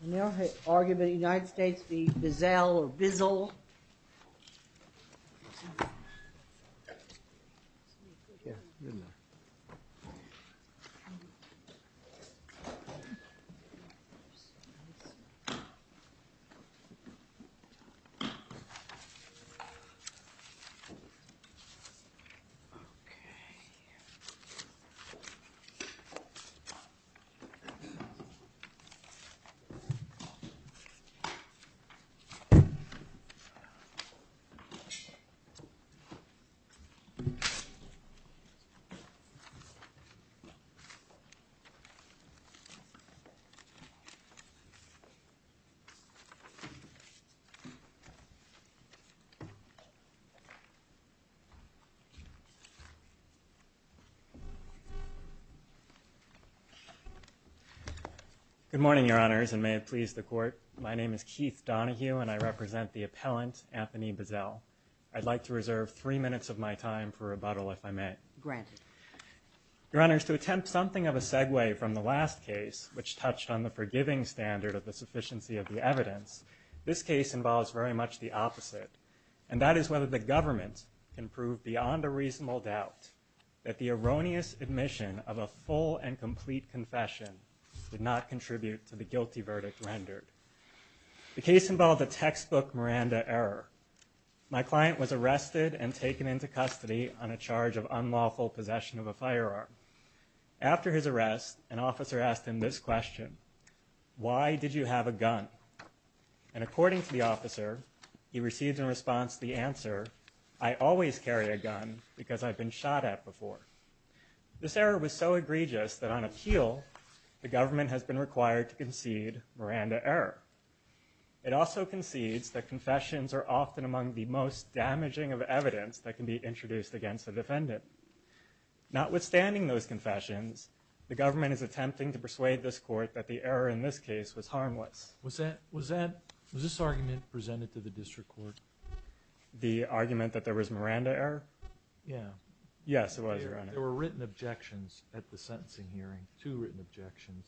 I never argued with the United States v. Bizzell or Bizzell. I never argued with the United States v. Bizzell or Bizzell or Bizzell. Good morning, Your Honors, and may it please the Court. My name is Keith Donohue, and I represent the appellant, Anthony Bizzell. I'd like to reserve three minutes of my time for rebuttal, if I may. Granted. Your Honors, to attempt something of a segue from the last case, which touched on the forgiving standard of the sufficiency of the evidence, this case involves very much the opposite, and that is whether the government can prove beyond a reasonable doubt that the erroneous admission of a full and complete confession did not contribute to the guilty verdict rendered. The case involved a textbook Miranda error. My client was arrested and taken into custody on a charge of unlawful possession of a firearm. After his arrest, an officer asked him this question, Why did you have a gun? And according to the officer, he received in response the answer, I always carry a gun because I've been shot at before. This error was so egregious that on appeal, the government has been required to concede Miranda error. It also concedes that confessions are often among the most damaging of evidence that can be introduced against a defendant. Notwithstanding those confessions, the government is attempting to persuade this Court that the error in this case was harmless. Was this argument presented to the district court? The argument that there was Miranda error? Yeah. Yes, it was. There were written objections at the sentencing hearing, two written objections,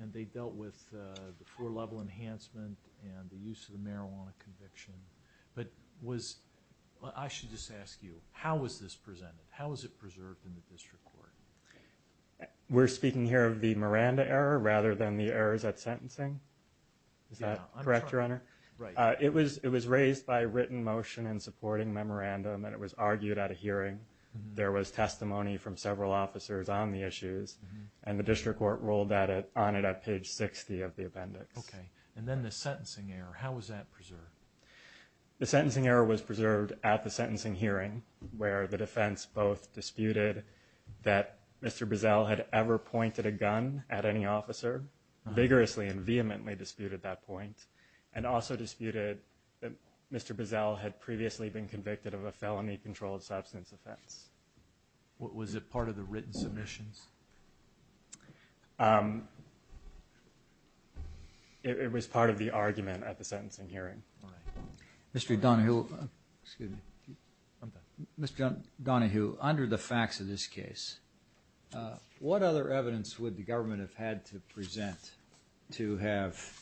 and they dealt with the floor-level enhancement and the use of the marijuana conviction. But I should just ask you, how was this presented? How was it preserved in the district court? We're speaking here of the Miranda error rather than the errors at sentencing? Is that correct, Your Honor? Right. It was raised by written motion in supporting memorandum, and it was argued at a hearing. There was testimony from several officers on the issues, and the district court ruled on it at page 60 of the appendix. Okay. And then the sentencing error, how was that preserved? The sentencing error was preserved at the sentencing hearing where the defense both disputed that Mr. Boesel had ever pointed a gun at any officer, vigorously and vehemently disputed that point, and also disputed that Mr. Boesel had previously been convicted of a felony-controlled substance offense. Was it part of the written submissions? It was part of the argument at the sentencing hearing. All right. Mr. Donohue, under the facts of this case, what other evidence would the government have had to present to have,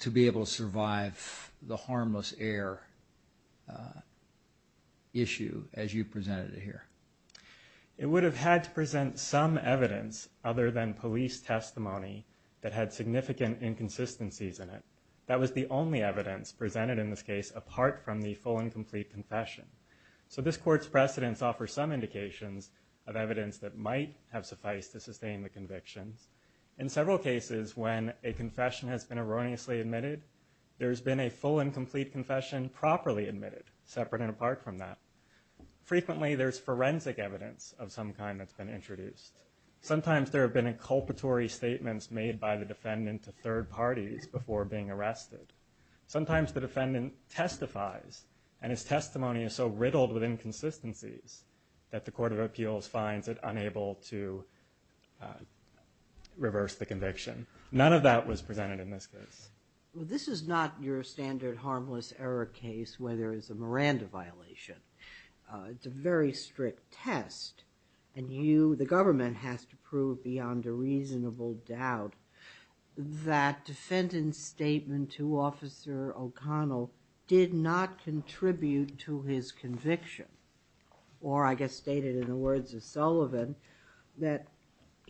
to be able to survive the harmless error issue as you presented it here? It would have had to present some evidence other than police testimony that had significant inconsistencies in it. That was the only evidence presented in this case apart from the full and complete confession. So this court's precedents offer some indications of evidence that might have sufficed to sustain the convictions. In several cases when a confession has been erroneously admitted, there's been a full and complete confession properly admitted, separate and apart from that. Frequently there's forensic evidence of some kind that's been introduced. Sometimes there have been inculpatory statements made by the defendant to third parties before being arrested. Sometimes the defendant testifies, and his testimony is so riddled with inconsistencies that the Court of Appeals finds it unable to reverse the conviction. None of that was presented in this case. This is not your standard harmless error case where there is a Miranda violation. It's a very strict test, and the government has to prove beyond a reasonable doubt that defendant's statement to Officer O'Connell did not contribute to his conviction, or I guess stated in the words of Sullivan, that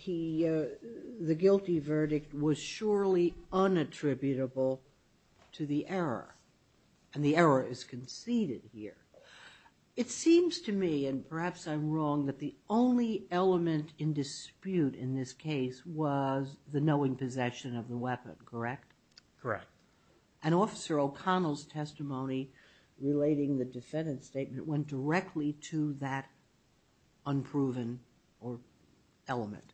the guilty verdict was surely unattributable to the error, and the error is conceded here. It seems to me, and perhaps I'm wrong, that the only element in dispute in this case was the knowing possession of the weapon, correct? Correct. And Officer O'Connell's testimony relating the defendant's statement went directly to that unproven element.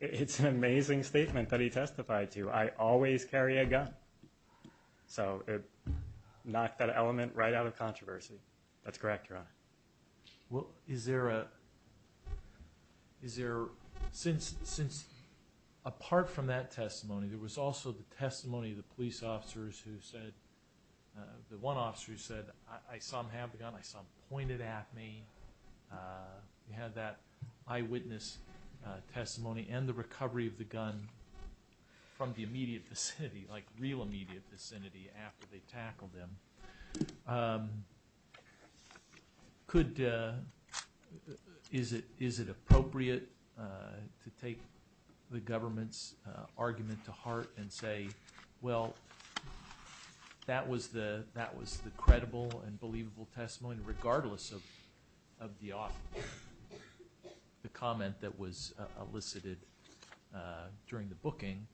It's an amazing statement that he testified to. I always carry a gun, so it knocked that element right out of controversy. That's correct, Your Honor. Well, is there a – is there – since apart from that testimony, there was also the testimony of the police officers who said – the one officer who said, I saw him have the gun, I saw him point it at me. He had that eyewitness testimony and the recovery of the gun from the immediate vicinity, like real immediate vicinity after they tackled him. Could – is it appropriate to take the government's argument to heart and say, well, that was the credible and believable testimony, regardless of the comment that was elicited during the booking?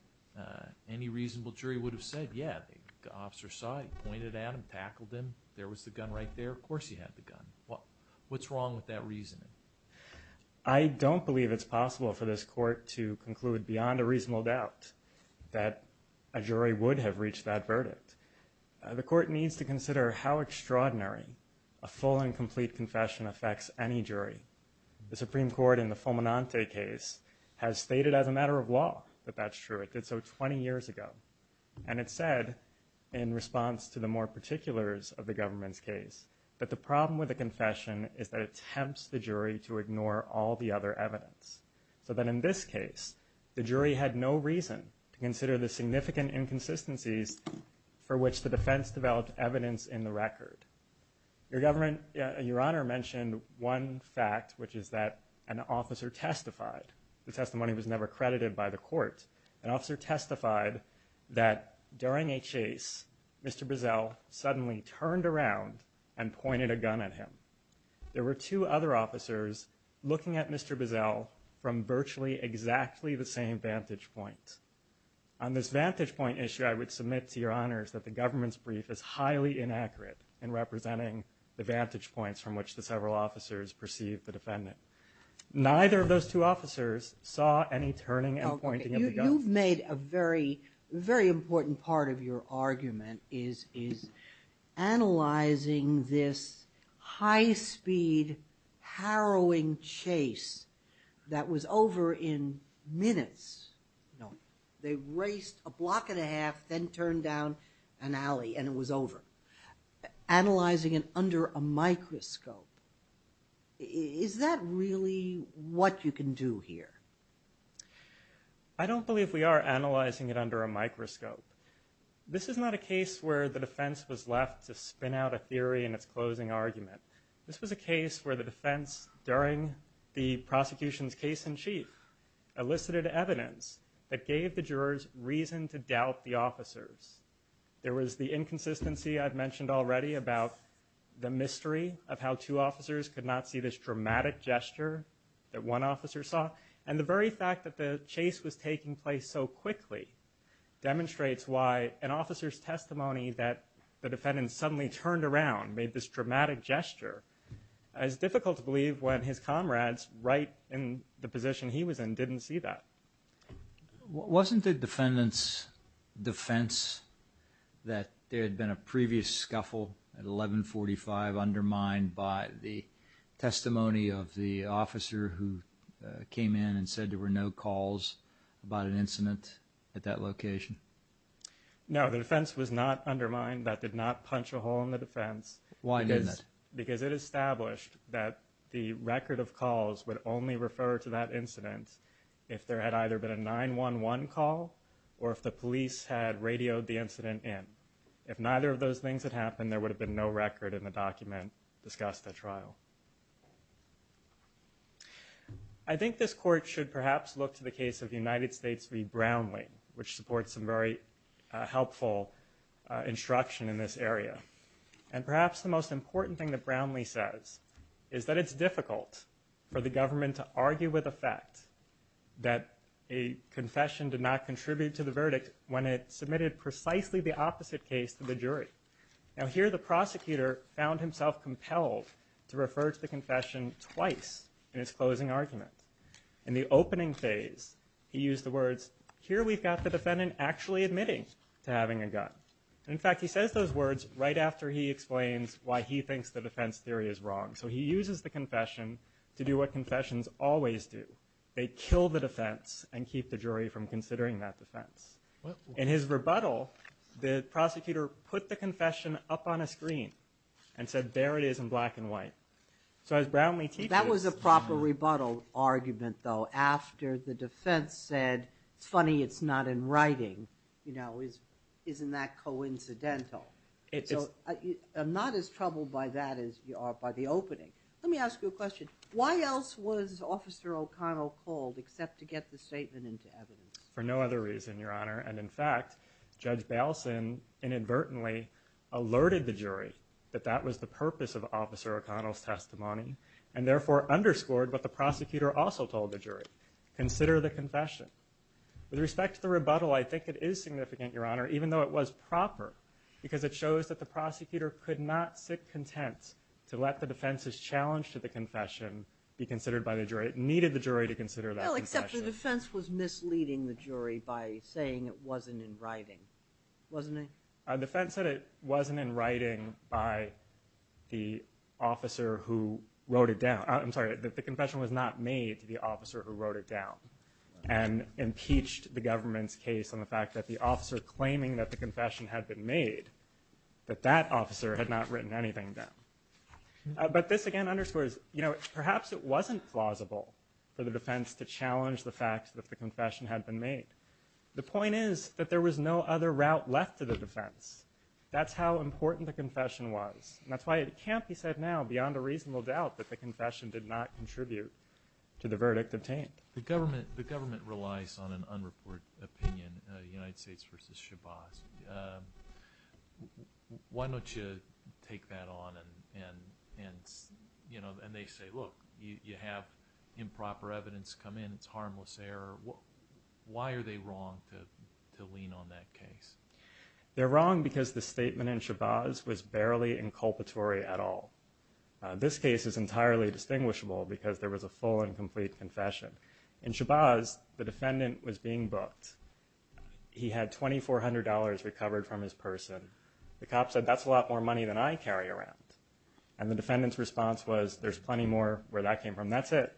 Any reasonable jury would have said, yeah, the officer saw him, he pointed at him, tackled him, there was the gun right there, of course he had the gun. What's wrong with that reasoning? I don't believe it's possible for this Court to conclude beyond a reasonable doubt that a jury would have reached that verdict. The Court needs to consider how extraordinary a full and complete confession affects any jury. The Supreme Court in the Fulminante case has stated as a matter of law that that's true. It did so 20 years ago. And it said, in response to the more particulars of the government's case, that the problem with a confession is that it tempts the jury to ignore all the other evidence. So that in this case, the jury had no reason to consider the significant inconsistencies for which the defense developed evidence in the record. Your government – your Honor mentioned one fact, which is that an officer testified. The testimony was never credited by the Court. An officer testified that during a chase, Mr. Bizzell suddenly turned around and pointed a gun at him. There were two other officers looking at Mr. Bizzell from virtually exactly the same vantage point. On this vantage point issue, I would submit to Your Honors that the government's brief is highly inaccurate in representing the vantage points from which the several officers perceived the defendant. Neither of those two officers saw any turning and pointing of the gun. You've made a very, very important part of your argument is analyzing this high-speed, harrowing chase that was over in minutes. They raced a block and a half, then turned down an alley, and it was over. Analyzing it under a microscope, is that really what you can do here? I don't believe we are analyzing it under a microscope. This is not a case where the defense was left to spin out a theory in its closing argument. This was a case where the defense, during the prosecution's case in chief, elicited evidence that gave the jurors reason to doubt the officers. There was the inconsistency I've mentioned already about the mystery of how two officers could not see this dramatic gesture that one officer saw. And the very fact that the chase was taking place so quickly demonstrates why an officer's testimony that the defendant suddenly turned around made this dramatic gesture. It's difficult to believe when his comrades, right in the position he was in, didn't see that. Wasn't the defendant's defense that there had been a previous scuffle at 1145 undermined by the testimony of the officer who came in and said there were no calls about an incident at that location? No, the defense was not undermined. That did not punch a hole in the defense. Why didn't it? Because it established that the record of calls would only refer to that incident if there had either been a 911 call or if the police had radioed the incident in. If neither of those things had happened, there would have been no record in the document discussed at trial. I think this Court should perhaps look to the case of the United States v. Brownlee, which supports some very helpful instruction in this area. And perhaps the most important thing that Brownlee says is that it's difficult for the government to argue with effect that a confession did not contribute to the verdict when it submitted precisely the opposite case to the jury. Now here the prosecutor found himself compelled to refer to the confession twice in his closing argument. In the opening phase, he used the words, here we've got the defendant actually admitting to having a gun. In fact, he says those words right after he explains why he thinks the defense theory is wrong. So he uses the confession to do what confessions always do. They kill the defense and keep the jury from considering that defense. In his rebuttal, the prosecutor put the confession up on a screen and said, there it is in black and white. So as Brownlee teaches... That was a proper rebuttal argument, though, after the defense said, it's funny it's not in writing. You know, isn't that coincidental? I'm not as troubled by that as you are by the opening. Let me ask you a question. Why else was Officer O'Connell called except to get the statement into evidence? For no other reason, Your Honor. And in fact, Judge Baleson inadvertently alerted the jury that that was the purpose of Officer O'Connell's testimony and therefore underscored what the prosecutor also told the jury. Consider the confession. With respect to the rebuttal, I think it is significant, Your Honor, even though it was proper, because it shows that the prosecutor could not sit content to let the defense's challenge to the confession be considered by the jury. It needed the jury to consider that confession. Well, except the defense was misleading the jury by saying it wasn't in writing, wasn't it? The defense said it wasn't in writing by the officer who wrote it down. I'm sorry, the confession was not made to the officer who wrote it down and impeached the government's case on the fact that the officer claiming that the confession had been made, that that officer had not written anything down. But this, again, underscores, you know, perhaps it wasn't plausible for the defense to challenge the fact that the confession had been made. The point is that there was no other route left to the defense. That's how important the confession was, and that's why it can't be said now, beyond a reasonable doubt, that the confession did not contribute to the verdict obtained. The government relies on an unreported opinion, United States v. Shabazz. Why don't you take that on and, you know, and they say, look, you have improper evidence come in, it's harmless error. Why are they wrong to lean on that case? They're wrong because the statement in Shabazz was barely inculpatory at all. This case is entirely distinguishable because there was a full and complete confession. In Shabazz, the defendant was being booked. He had $2,400 recovered from his person. The cop said, that's a lot more money than I carry around. And the defendant's response was, there's plenty more where that came from, that's it.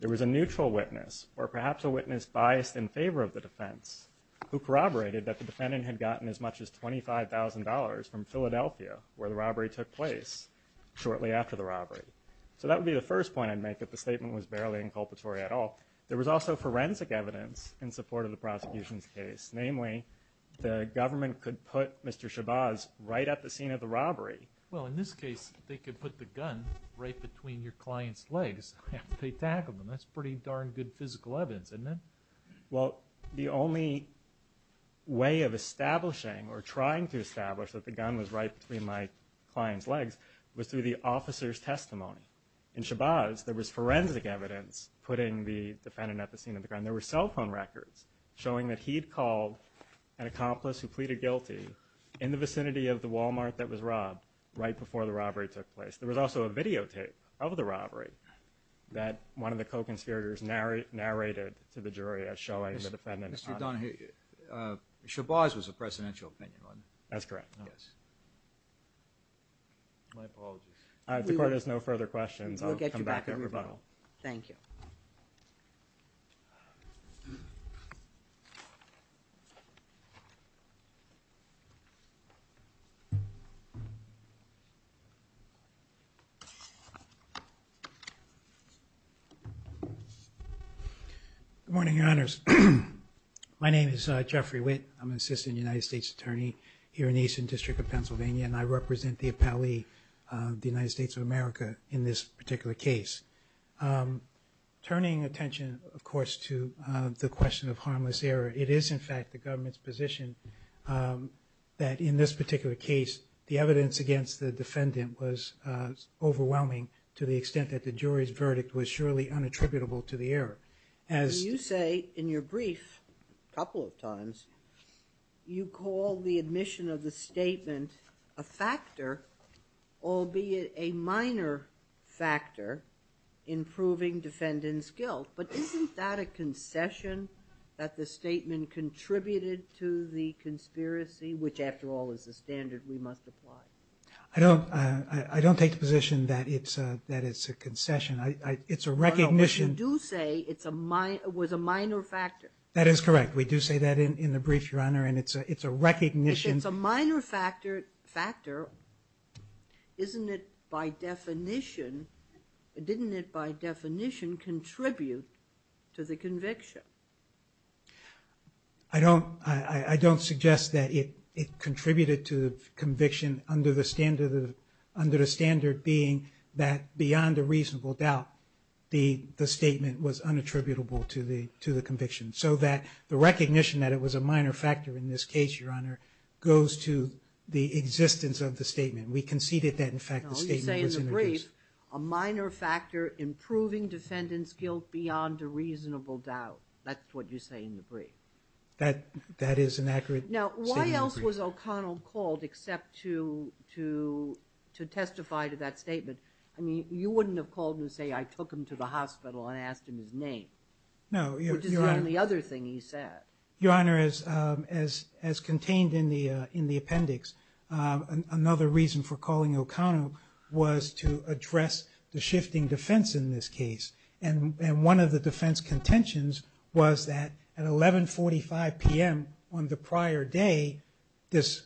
There was a neutral witness, or perhaps a witness biased in favor of the defense, who corroborated that the defendant had gotten as much as $25,000 from Philadelphia, where the robbery took place, shortly after the robbery. So that would be the first point I'd make, that the statement was barely inculpatory at all. There was also forensic evidence in support of the prosecution's case. Namely, the government could put Mr. Shabazz right at the scene of the robbery. Well, in this case, they could put the gun right between your client's legs. They tackled him. That's pretty darn good physical evidence, isn't it? Well, the only way of establishing, or trying to establish, that the gun was right between my client's legs was through the officer's testimony. In Shabazz, there was forensic evidence putting the defendant at the scene of the crime. There were cell phone records showing that he'd called an accomplice who pleaded guilty in the vicinity of the Walmart that was robbed right before the robbery took place. There was also a videotape of the robbery that one of the co-conspirators narrated to the jury as showing the defendant's body. Mr. Donahue, Shabazz was a presidential opinion, wasn't he? That's correct. My apologies. If the court has no further questions, I'll come back at rebuttal. Thank you. Good morning, Your Honors. My name is Jeffrey Witt. I'm an assistant United States attorney here in the Eastern District of Pennsylvania, and I represent the appellee of the United States of America in this particular case. Turning attention, of course, to the question of harmless error, it is, in fact, the government's position that in this particular case, the evidence against the defendant was overwhelming to the extent that the jury's verdict was surely unattributable to the error. You say in your brief a couple of times you call the admission of the statement a factor, albeit a minor factor in proving defendant's guilt, but isn't that a concession that the statement contributed to the conspiracy, which, after all, is the standard we must apply? I don't take the position that it's a concession. It's a recognition... But you do say it was a minor factor. That is correct. We do say that in the brief, Your Honor, and it's a recognition... If it's a minor factor, isn't it by definition... didn't it by definition contribute to the conviction? I don't suggest that it contributed to the conviction under the standard being that beyond a reasonable doubt the statement was unattributable to the conviction, so that the recognition that it was a minor factor in this case, Your Honor, goes to the existence of the statement. We conceded that, in fact, the statement was... No, you say in the brief, a minor factor in proving defendant's guilt beyond a reasonable doubt. That's what you say in the brief. That is an accurate statement. Now, why else was O'Connell called except to testify to that statement? I mean, you wouldn't have called him to say, I took him to the hospital and asked him his name. No, Your Honor... Which is the only other thing he said. Your Honor, as contained in the appendix, another reason for calling O'Connell was to address the shifting defense in this case, and one of the defense contentions was that at 11.45 p.m. on the prior day this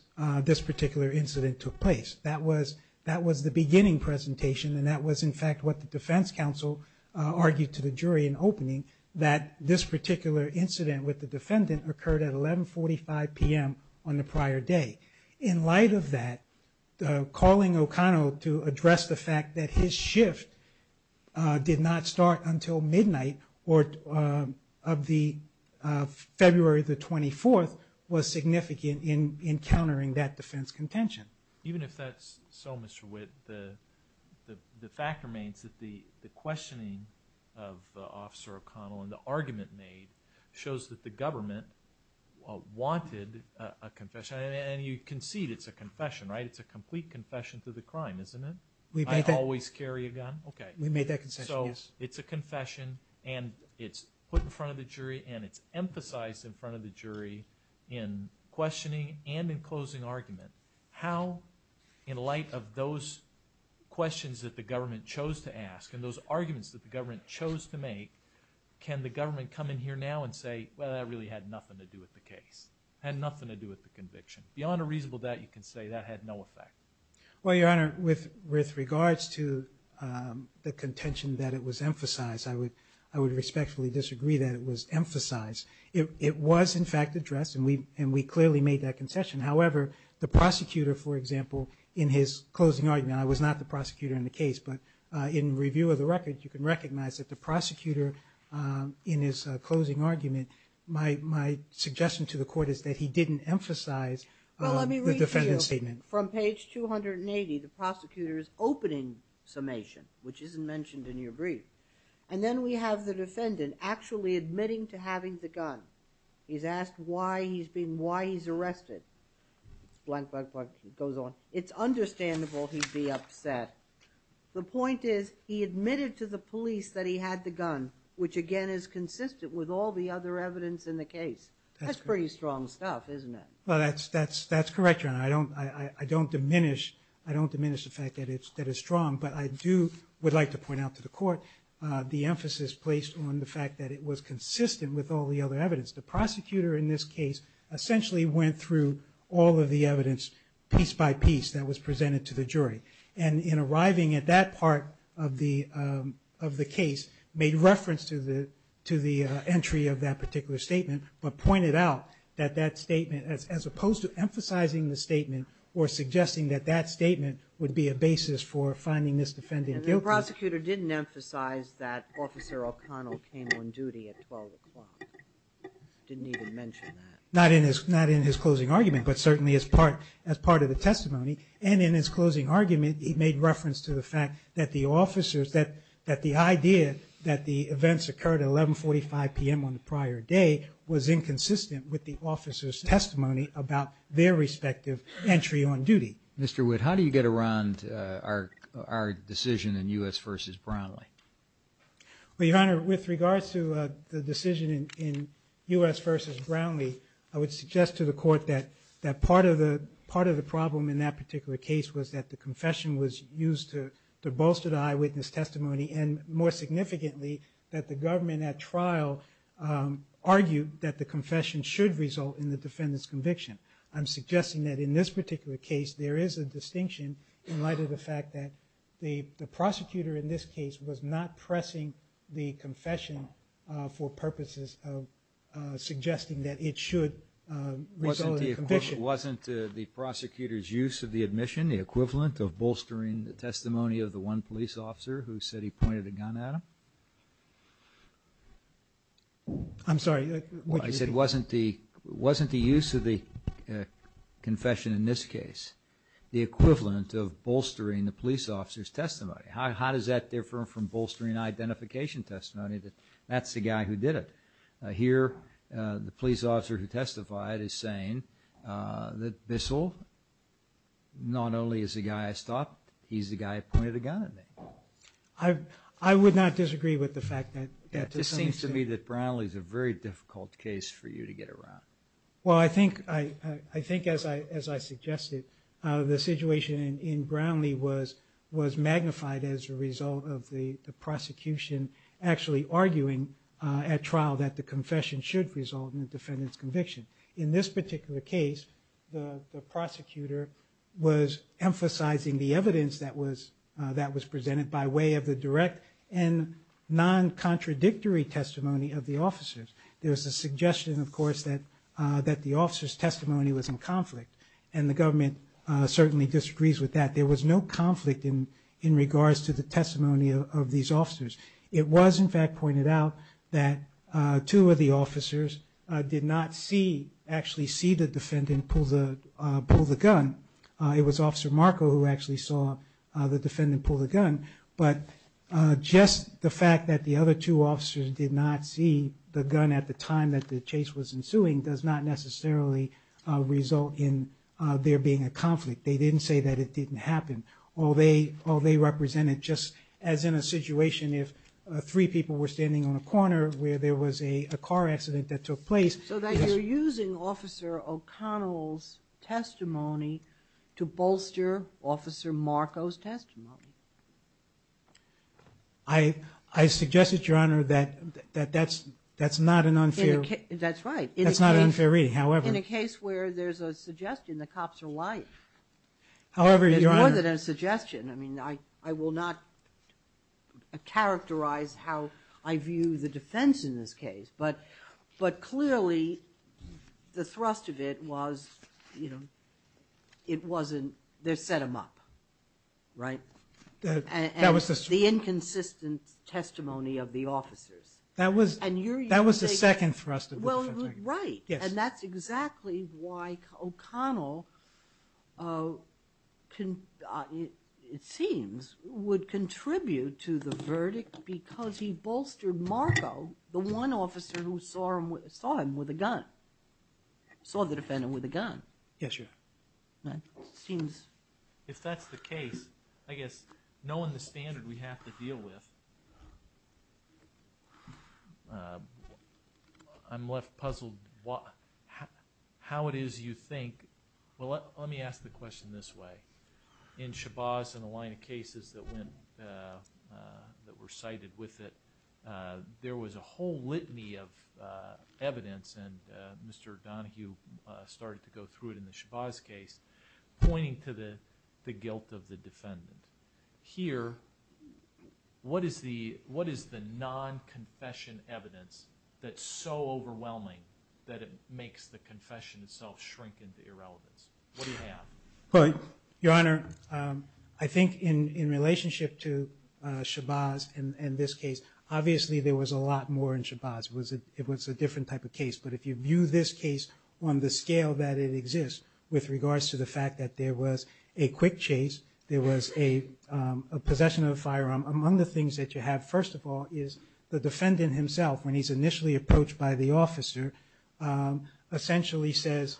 particular incident took place. That was the beginning presentation, and that was, in fact, what the defense counsel argued to the jury in opening, that this particular incident with the defendant occurred at 11.45 p.m. on the prior day. In light of that, calling O'Connell to address the fact that his shift did not start until midnight of February the 24th was significant in countering that defense contention. Even if that's so, Mr. Witt, the fact remains that the questioning of Officer O'Connell and the argument made shows that the government wanted a confession, and you concede it's a confession, right? It's a complete confession to the crime, isn't it? I always carry a gun? We made that confession, yes. So it's a confession, and it's put in front of the jury, and it's emphasized in front of the jury in questioning and in closing argument how, in light of those questions that the government chose to ask and those arguments that the government chose to make, can the government come in here now and say, well, that really had nothing to do with the case, had nothing to do with the conviction. Beyond a reasonable doubt, you can say that had no effect. Well, Your Honor, with regards to the contention that it was emphasized, I would respectfully disagree that it was emphasized. It was, in fact, addressed, and we clearly made that concession. However, the prosecutor, for example, in his closing argument, I was not the prosecutor in the case, but in review of the record, you can recognize that the prosecutor, in his closing argument, my suggestion to the court is that he didn't emphasize the defendant's statement. Well, let me read to you. From page 280, the prosecutor's opening summation, which isn't mentioned in your brief, and then we have the defendant actually admitting to having the gun. He's asked why he's been, why he's arrested. Blank, blank, blank, he goes on. It's understandable he'd be upset. The point is he admitted to the police that he had the gun, which again is consistent with all the other evidence in the case. That's pretty strong stuff, isn't it? Well, that's correct, Your Honor. I don't diminish the fact that it's strong, but I do would like to point out to the court the emphasis placed on the fact that it was consistent with all the other evidence. The prosecutor in this case essentially went through all of the evidence piece by piece that was presented to the jury, and in arriving at that part of the case made reference to the entry of that particular statement but pointed out that that statement, as opposed to emphasizing the statement or suggesting that that statement would be a basis for finding this defendant guilty... And the prosecutor didn't emphasize that Officer O'Connell came on duty at 12 o'clock. Didn't even mention that. Not in his closing argument, but certainly as part of the testimony. And in his closing argument, he made reference to the fact that the officers... that the idea that the events occurred at 11.45 p.m. on the prior day was inconsistent with the officers' testimony about their respective entry on duty. Mr. Witt, how do you get around our decision in U.S. v. Brownlee? Well, Your Honor, with regards to the decision in U.S. v. Brownlee, I would suggest to the court that part of the problem in that particular case was that the confession was used to bolster the eyewitness testimony and, more significantly, that the government at trial argued that the confession should result in the defendant's conviction. I'm suggesting that in this particular case, there is a distinction in light of the fact that the prosecutor in this case was not pressing the confession for purposes of suggesting that it should result in conviction. Wasn't the prosecutor's use of the admission the equivalent of bolstering the testimony of the one police officer who said he pointed a gun at him? I'm sorry. I said, wasn't the use of the confession in this case the equivalent of bolstering the police officer's testimony? How does that differ from bolstering identification testimony that that's the guy who did it? Here, the police officer who testified is saying that Bissell, not only is the guy I stopped, he's the guy who pointed a gun at me. I would not disagree with the fact that... It seems to me that Brownlee is a very difficult case for you to get around. Well, I think, as I suggested, the situation in Brownlee was magnified as a result of the prosecution actually arguing at trial that the confession should result in the defendant's conviction. In this particular case, the prosecutor was emphasizing the evidence that was presented by way of the direct and non-contradictory testimony of the officers. There was a suggestion, of course, that the officers' testimony was in conflict, and the government certainly disagrees with that. There was no conflict in regards to the testimony of these officers. It was, in fact, pointed out that two of the officers did not actually see the defendant pull the gun. It was Officer Marco who actually saw the defendant pull the gun, but just the fact that the other two officers did not see the gun at the time that the chase was ensuing does not necessarily result in there being a conflict. They didn't say that it didn't happen. All they represented, just as in a situation if three people were standing on a corner where there was a car accident that took place... So that you're using Officer O'Connell's testimony to bolster Officer Marco's testimony. I suggested, Your Honor, that that's not an unfair... That's right. That's not an unfair reading, however... In a case where there's a suggestion the cops are lying. However, Your Honor... There's more than a suggestion. I mean, I will not characterize how I view the defense in this case, but clearly the thrust of it was, you know, it wasn't... they set him up, right? That was the... The inconsistent testimony of the officers. That was the second thrust of the defense argument. Well, right, and that's exactly why O'Connell, it seems, would contribute to the verdict because he bolstered Marco, the one officer who saw him with a gun, saw the defendant with a gun. Yes, Your Honor. That seems... If that's the case, I guess, knowing the standard we have to deal with, I'm left puzzled how it is you think... Well, let me ask the question this way. In Shabazz and a line of cases that went... that were cited with it, there was a whole litany of evidence, and Mr. Donohue started to go through it in the Shabazz case, pointing to the guilt of the defendant. Here, what is the non-confession evidence that's so overwhelming that it makes the confession itself shrink into irrelevance? What do you have? Well, Your Honor, I think in relationship to Shabazz and this case, obviously there was a lot more in Shabazz. It was a different type of case, but if you view this case on the scale that it exists, with regards to the fact that there was a quick chase, there was a possession of a firearm, among the things that you have, first of all, is the defendant himself, when he's initially approached by the officer, essentially says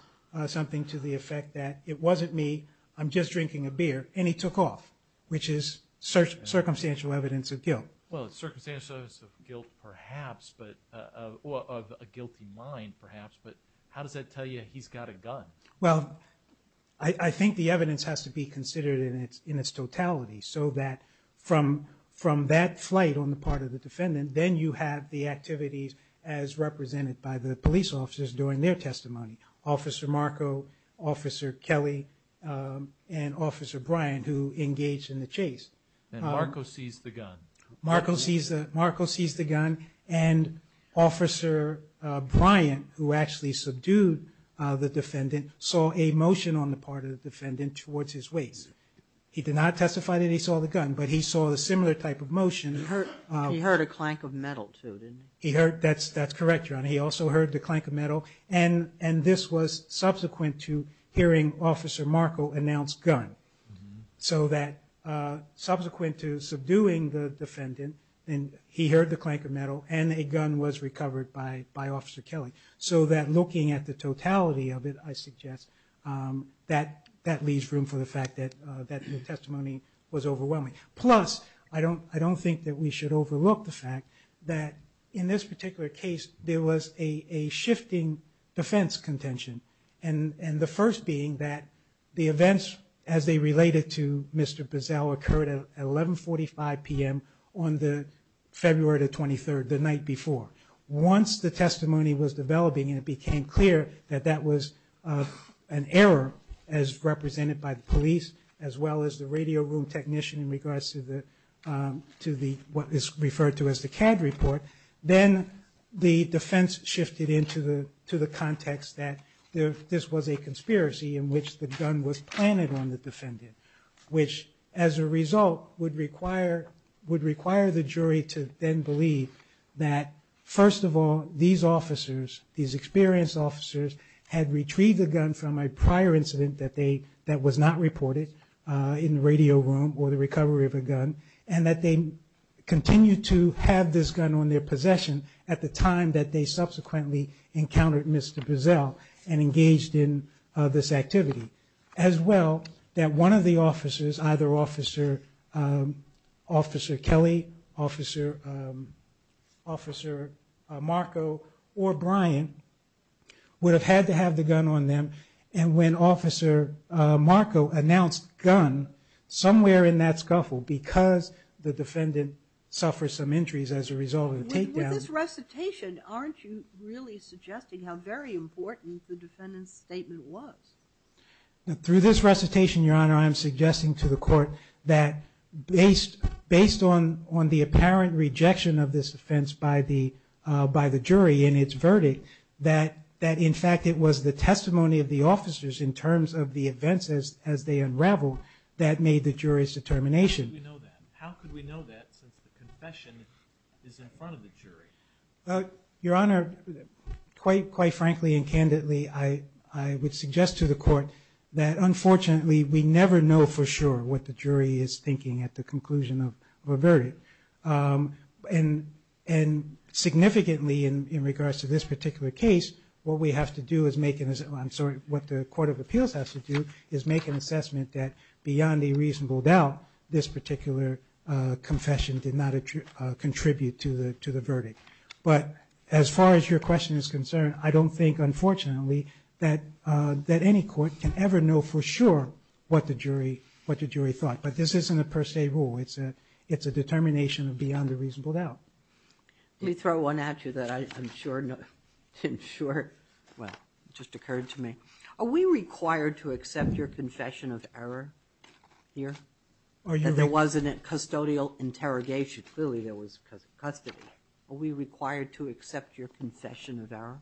something to the effect that, it wasn't me, I'm just drinking a beer, and he took off, which is circumstantial evidence of guilt. Well, circumstantial evidence of guilt, perhaps, or of a guilty mind, perhaps, but how does that tell you he's got a gun? Well, I think the evidence has to be considered in its totality, so that from that flight on the part of the defendant, then you have the activities as represented by the police officers during their testimony, Officer Marco, Officer Kelly, and Officer Bryan, who engaged in the chase. And Marco seized the gun. Marco seized the gun, and Officer Bryan, who actually subdued the defendant, saw a motion on the part of the defendant towards his waist. He did not testify that he saw the gun, but he saw a similar type of motion. He heard a clank of metal, too, didn't he? That's correct, Your Honor. He also heard the clank of metal, and this was subsequent to hearing Officer Marco announce gun. So that subsequent to subduing the defendant, he heard the clank of metal, and a gun was recovered by Officer Kelly. So that looking at the totality of it, I suggest, that leaves room for the fact that the testimony was overwhelming. Plus, I don't think that we should overlook the fact that in this particular case, there was a shifting defense contention, and the first being that the events, as they related to Mr. Boesel, occurred at 11.45 p.m. on the February 23rd, the night before. Once the testimony was developing, and it became clear that that was an error, as represented by the police, as well as the radio room technician, in regards to what is referred to as the CAD report, then the defense shifted into the context that this was a conspiracy in which the gun was planted on the defendant, which as a result would require the jury to then believe that first of all, these officers, these experienced officers, had retrieved the gun from a prior incident that was not reported in the radio room, or the recovery of a gun, and that they continued to have this gun on their possession at the time that they subsequently encountered Mr. Boesel and engaged in this activity. As well, that one of the officers, either Officer Kelly, Officer Marco, or Brian, would have had to have the gun on them, and when Officer Marco announced gun, somewhere in that scuffle, because the defendant suffered some injuries as a result of the takedowns... With this recitation, aren't you really suggesting how very important the defendant's statement was? Through this recitation, Your Honor, I am suggesting to the court that based on the apparent rejection of this offense by the jury in its verdict, that in fact it was the testimony of the officers in terms of the events as they unraveled that made the jury's determination. How could we know that, since the confession is in front of the jury? Your Honor, quite frankly and candidly, I would suggest to the court that, unfortunately, we never know for sure what the jury is thinking at the conclusion of a verdict. And significantly, in regards to this particular case, what we have to do is make it as... I'm sorry, what the Court of Appeals has to do is make an assessment that beyond a reasonable doubt, this particular confession did not contribute to the verdict. But as far as your question is concerned, I don't think, unfortunately, that any court can ever know for sure what the jury thought. But this isn't a per se rule. It's a determination beyond a reasonable doubt. Let me throw one at you that I'm sure... Excuse me. Are we required to accept your confession of error here? That there was a custodial interrogation. Clearly, there was custody. Are we required to accept your confession of error?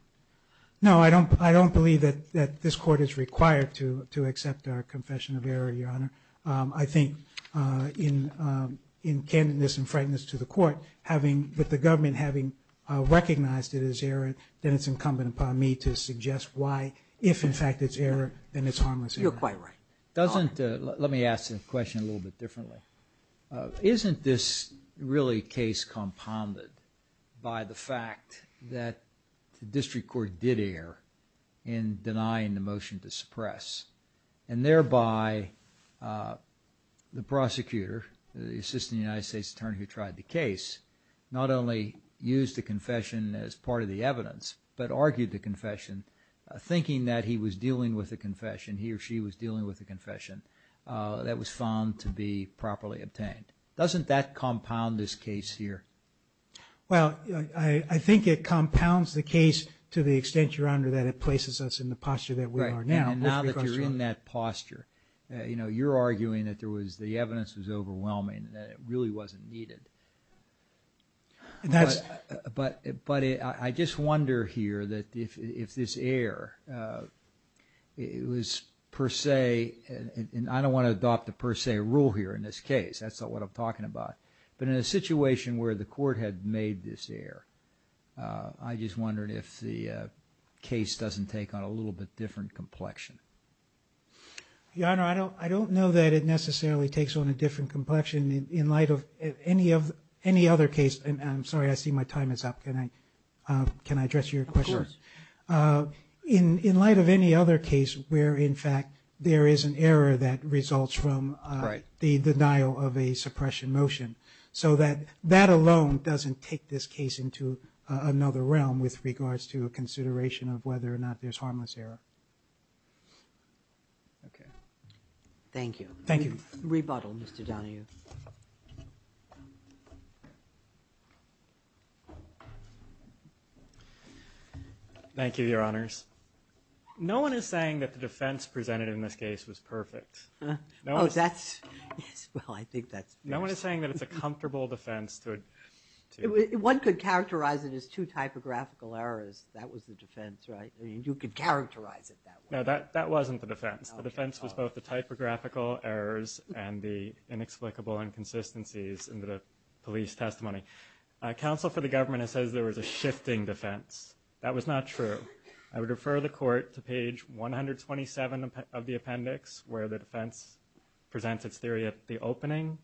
No, I don't believe that this court is required to accept our confession of error, Your Honor. I think, in candidness and frankness to the court, with the government having recognized it as error, then it's incumbent upon me to suggest why, if in fact it's error, then it's harmless error. You're quite right. Doesn't... Let me ask the question a little bit differently. Isn't this really a case compounded by the fact that the district court did err in denying the motion to suppress and thereby the prosecutor, the Assistant United States Attorney who tried the case, not only used the confession as part of the evidence, but argued the confession, thinking that he was dealing with a confession, he or she was dealing with a confession, that was found to be properly obtained. Doesn't that compound this case here? Well, I think it compounds the case to the extent, Your Honor, that it places us in the posture that we are now. Right, and now that you're in that posture, you're arguing that the evidence was overwhelming, that it really wasn't needed. And that's... But I just wonder here that if this error was per se, and I don't want to adopt a per se rule here in this case, that's not what I'm talking about, but in a situation where the court had made this error, I just wondered if the case doesn't take on a little bit different complexion. Your Honor, I don't know that it necessarily takes on a different complexion in light of any other case. I'm sorry, I see my time is up. Can I address your question? Of course. In light of any other case where, in fact, there is an error that results from the denial of a suppression motion, so that that alone doesn't take this case into another realm with regards to a consideration of whether or not there's harmless error. Okay. Thank you. Thank you. Rebuttal, Mr. Donahue. Thank you, Your Honors. No one is saying that the defense presented in this case was perfect. Oh, that's... Well, I think that's fair. No one is saying that it's a comfortable defense to... One could characterize it as two typographical errors. That was the defense, right? You could characterize it that way. No, that wasn't the defense. The defense was both the typographical errors and the inexplicable inconsistencies in the police testimony. Counsel for the government says there was a shifting defense. That was not true. I would refer the Court to page 127 of the appendix, where the defense presents its theory at the opening,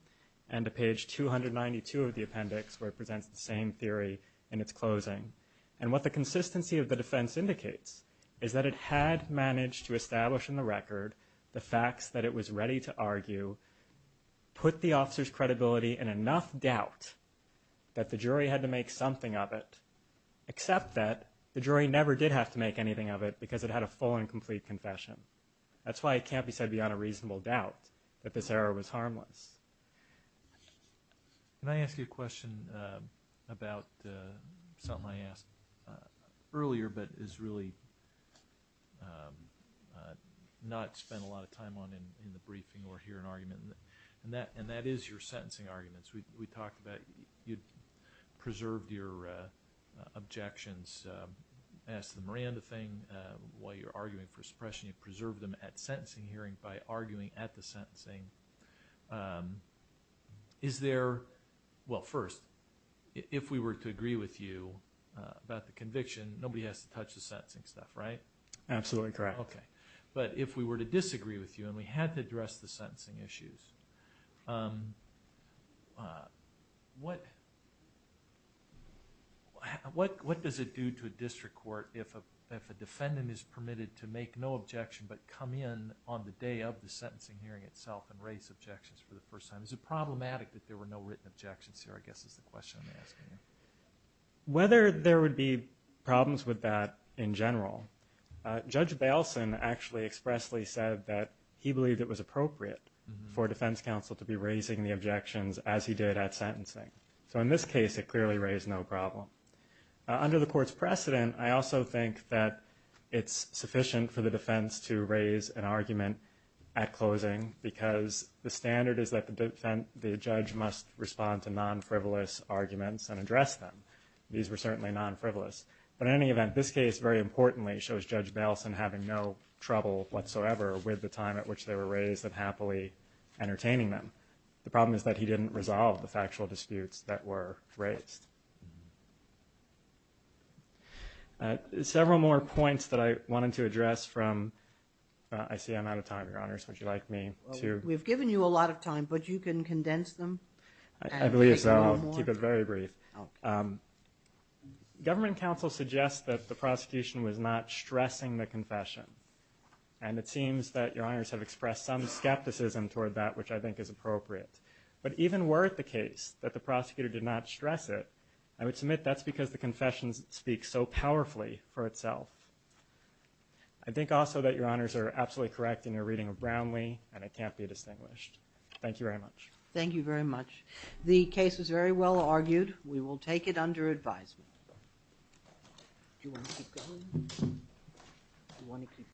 and to page 292 of the appendix, where it presents the same theory in its closing. And what the consistency of the defense indicates is that it had managed to establish in the record the facts that it was ready to argue, put the officer's credibility in enough doubt that the jury had to make something of it, except that the jury never did have to make anything of it because it had a full and complete confession. That's why it can't be said beyond a reasonable doubt that this error was harmless. Can I ask you a question about something I asked earlier but has really not spent a lot of time on in the briefing or here in argument, and that is your sentencing arguments. We talked about you preserved your objections as to the Miranda thing while you were arguing for suppression. You preserved them at sentencing hearing by arguing at the sentencing. Is there... Well, first, if we were to agree with you about the conviction, nobody has to touch the sentencing stuff, right? Absolutely correct. But if we were to disagree with you and we had to address the sentencing issues, what does it do to a district court if a defendant is permitted to make no objection but come in on the day of the sentencing hearing itself and raise objections for the first time? Is it problematic that there were no written objections here, I guess, is the question I'm asking you. Whether there would be problems with that in general, Judge Bailson actually expressly said that he believed it was appropriate for defense counsel to be raising the objections as he did at sentencing. So in this case, it clearly raised no problem. Under the court's precedent, I also think that it's sufficient for the defense to raise an argument at closing because the standard is that the judge must respond to non-frivolous arguments and address them. These were certainly non-frivolous. But in any event, this case, very importantly, shows Judge Bailson having no trouble whatsoever with the time at which they were raised and happily entertaining them. The problem is that he didn't resolve the factual disputes that were raised. Several more points that I wanted to address from... I see I'm out of time, Your Honors. Would you like me to... We've given you a lot of time, but you can condense them. I believe so. I'll keep it very brief. Government counsel suggests that the prosecution was not stressing the confession. And it seems that Your Honors have expressed some skepticism toward that, which I think is appropriate. But even were it the case that the prosecutor did not stress it, I would submit that's because the confession speaks so powerfully for itself. I think also that Your Honors are absolutely correct in your reading of Brownlee, and it can't be distinguished. Thank you very much. Thank you very much. The case was very well argued. We will take it under advisement.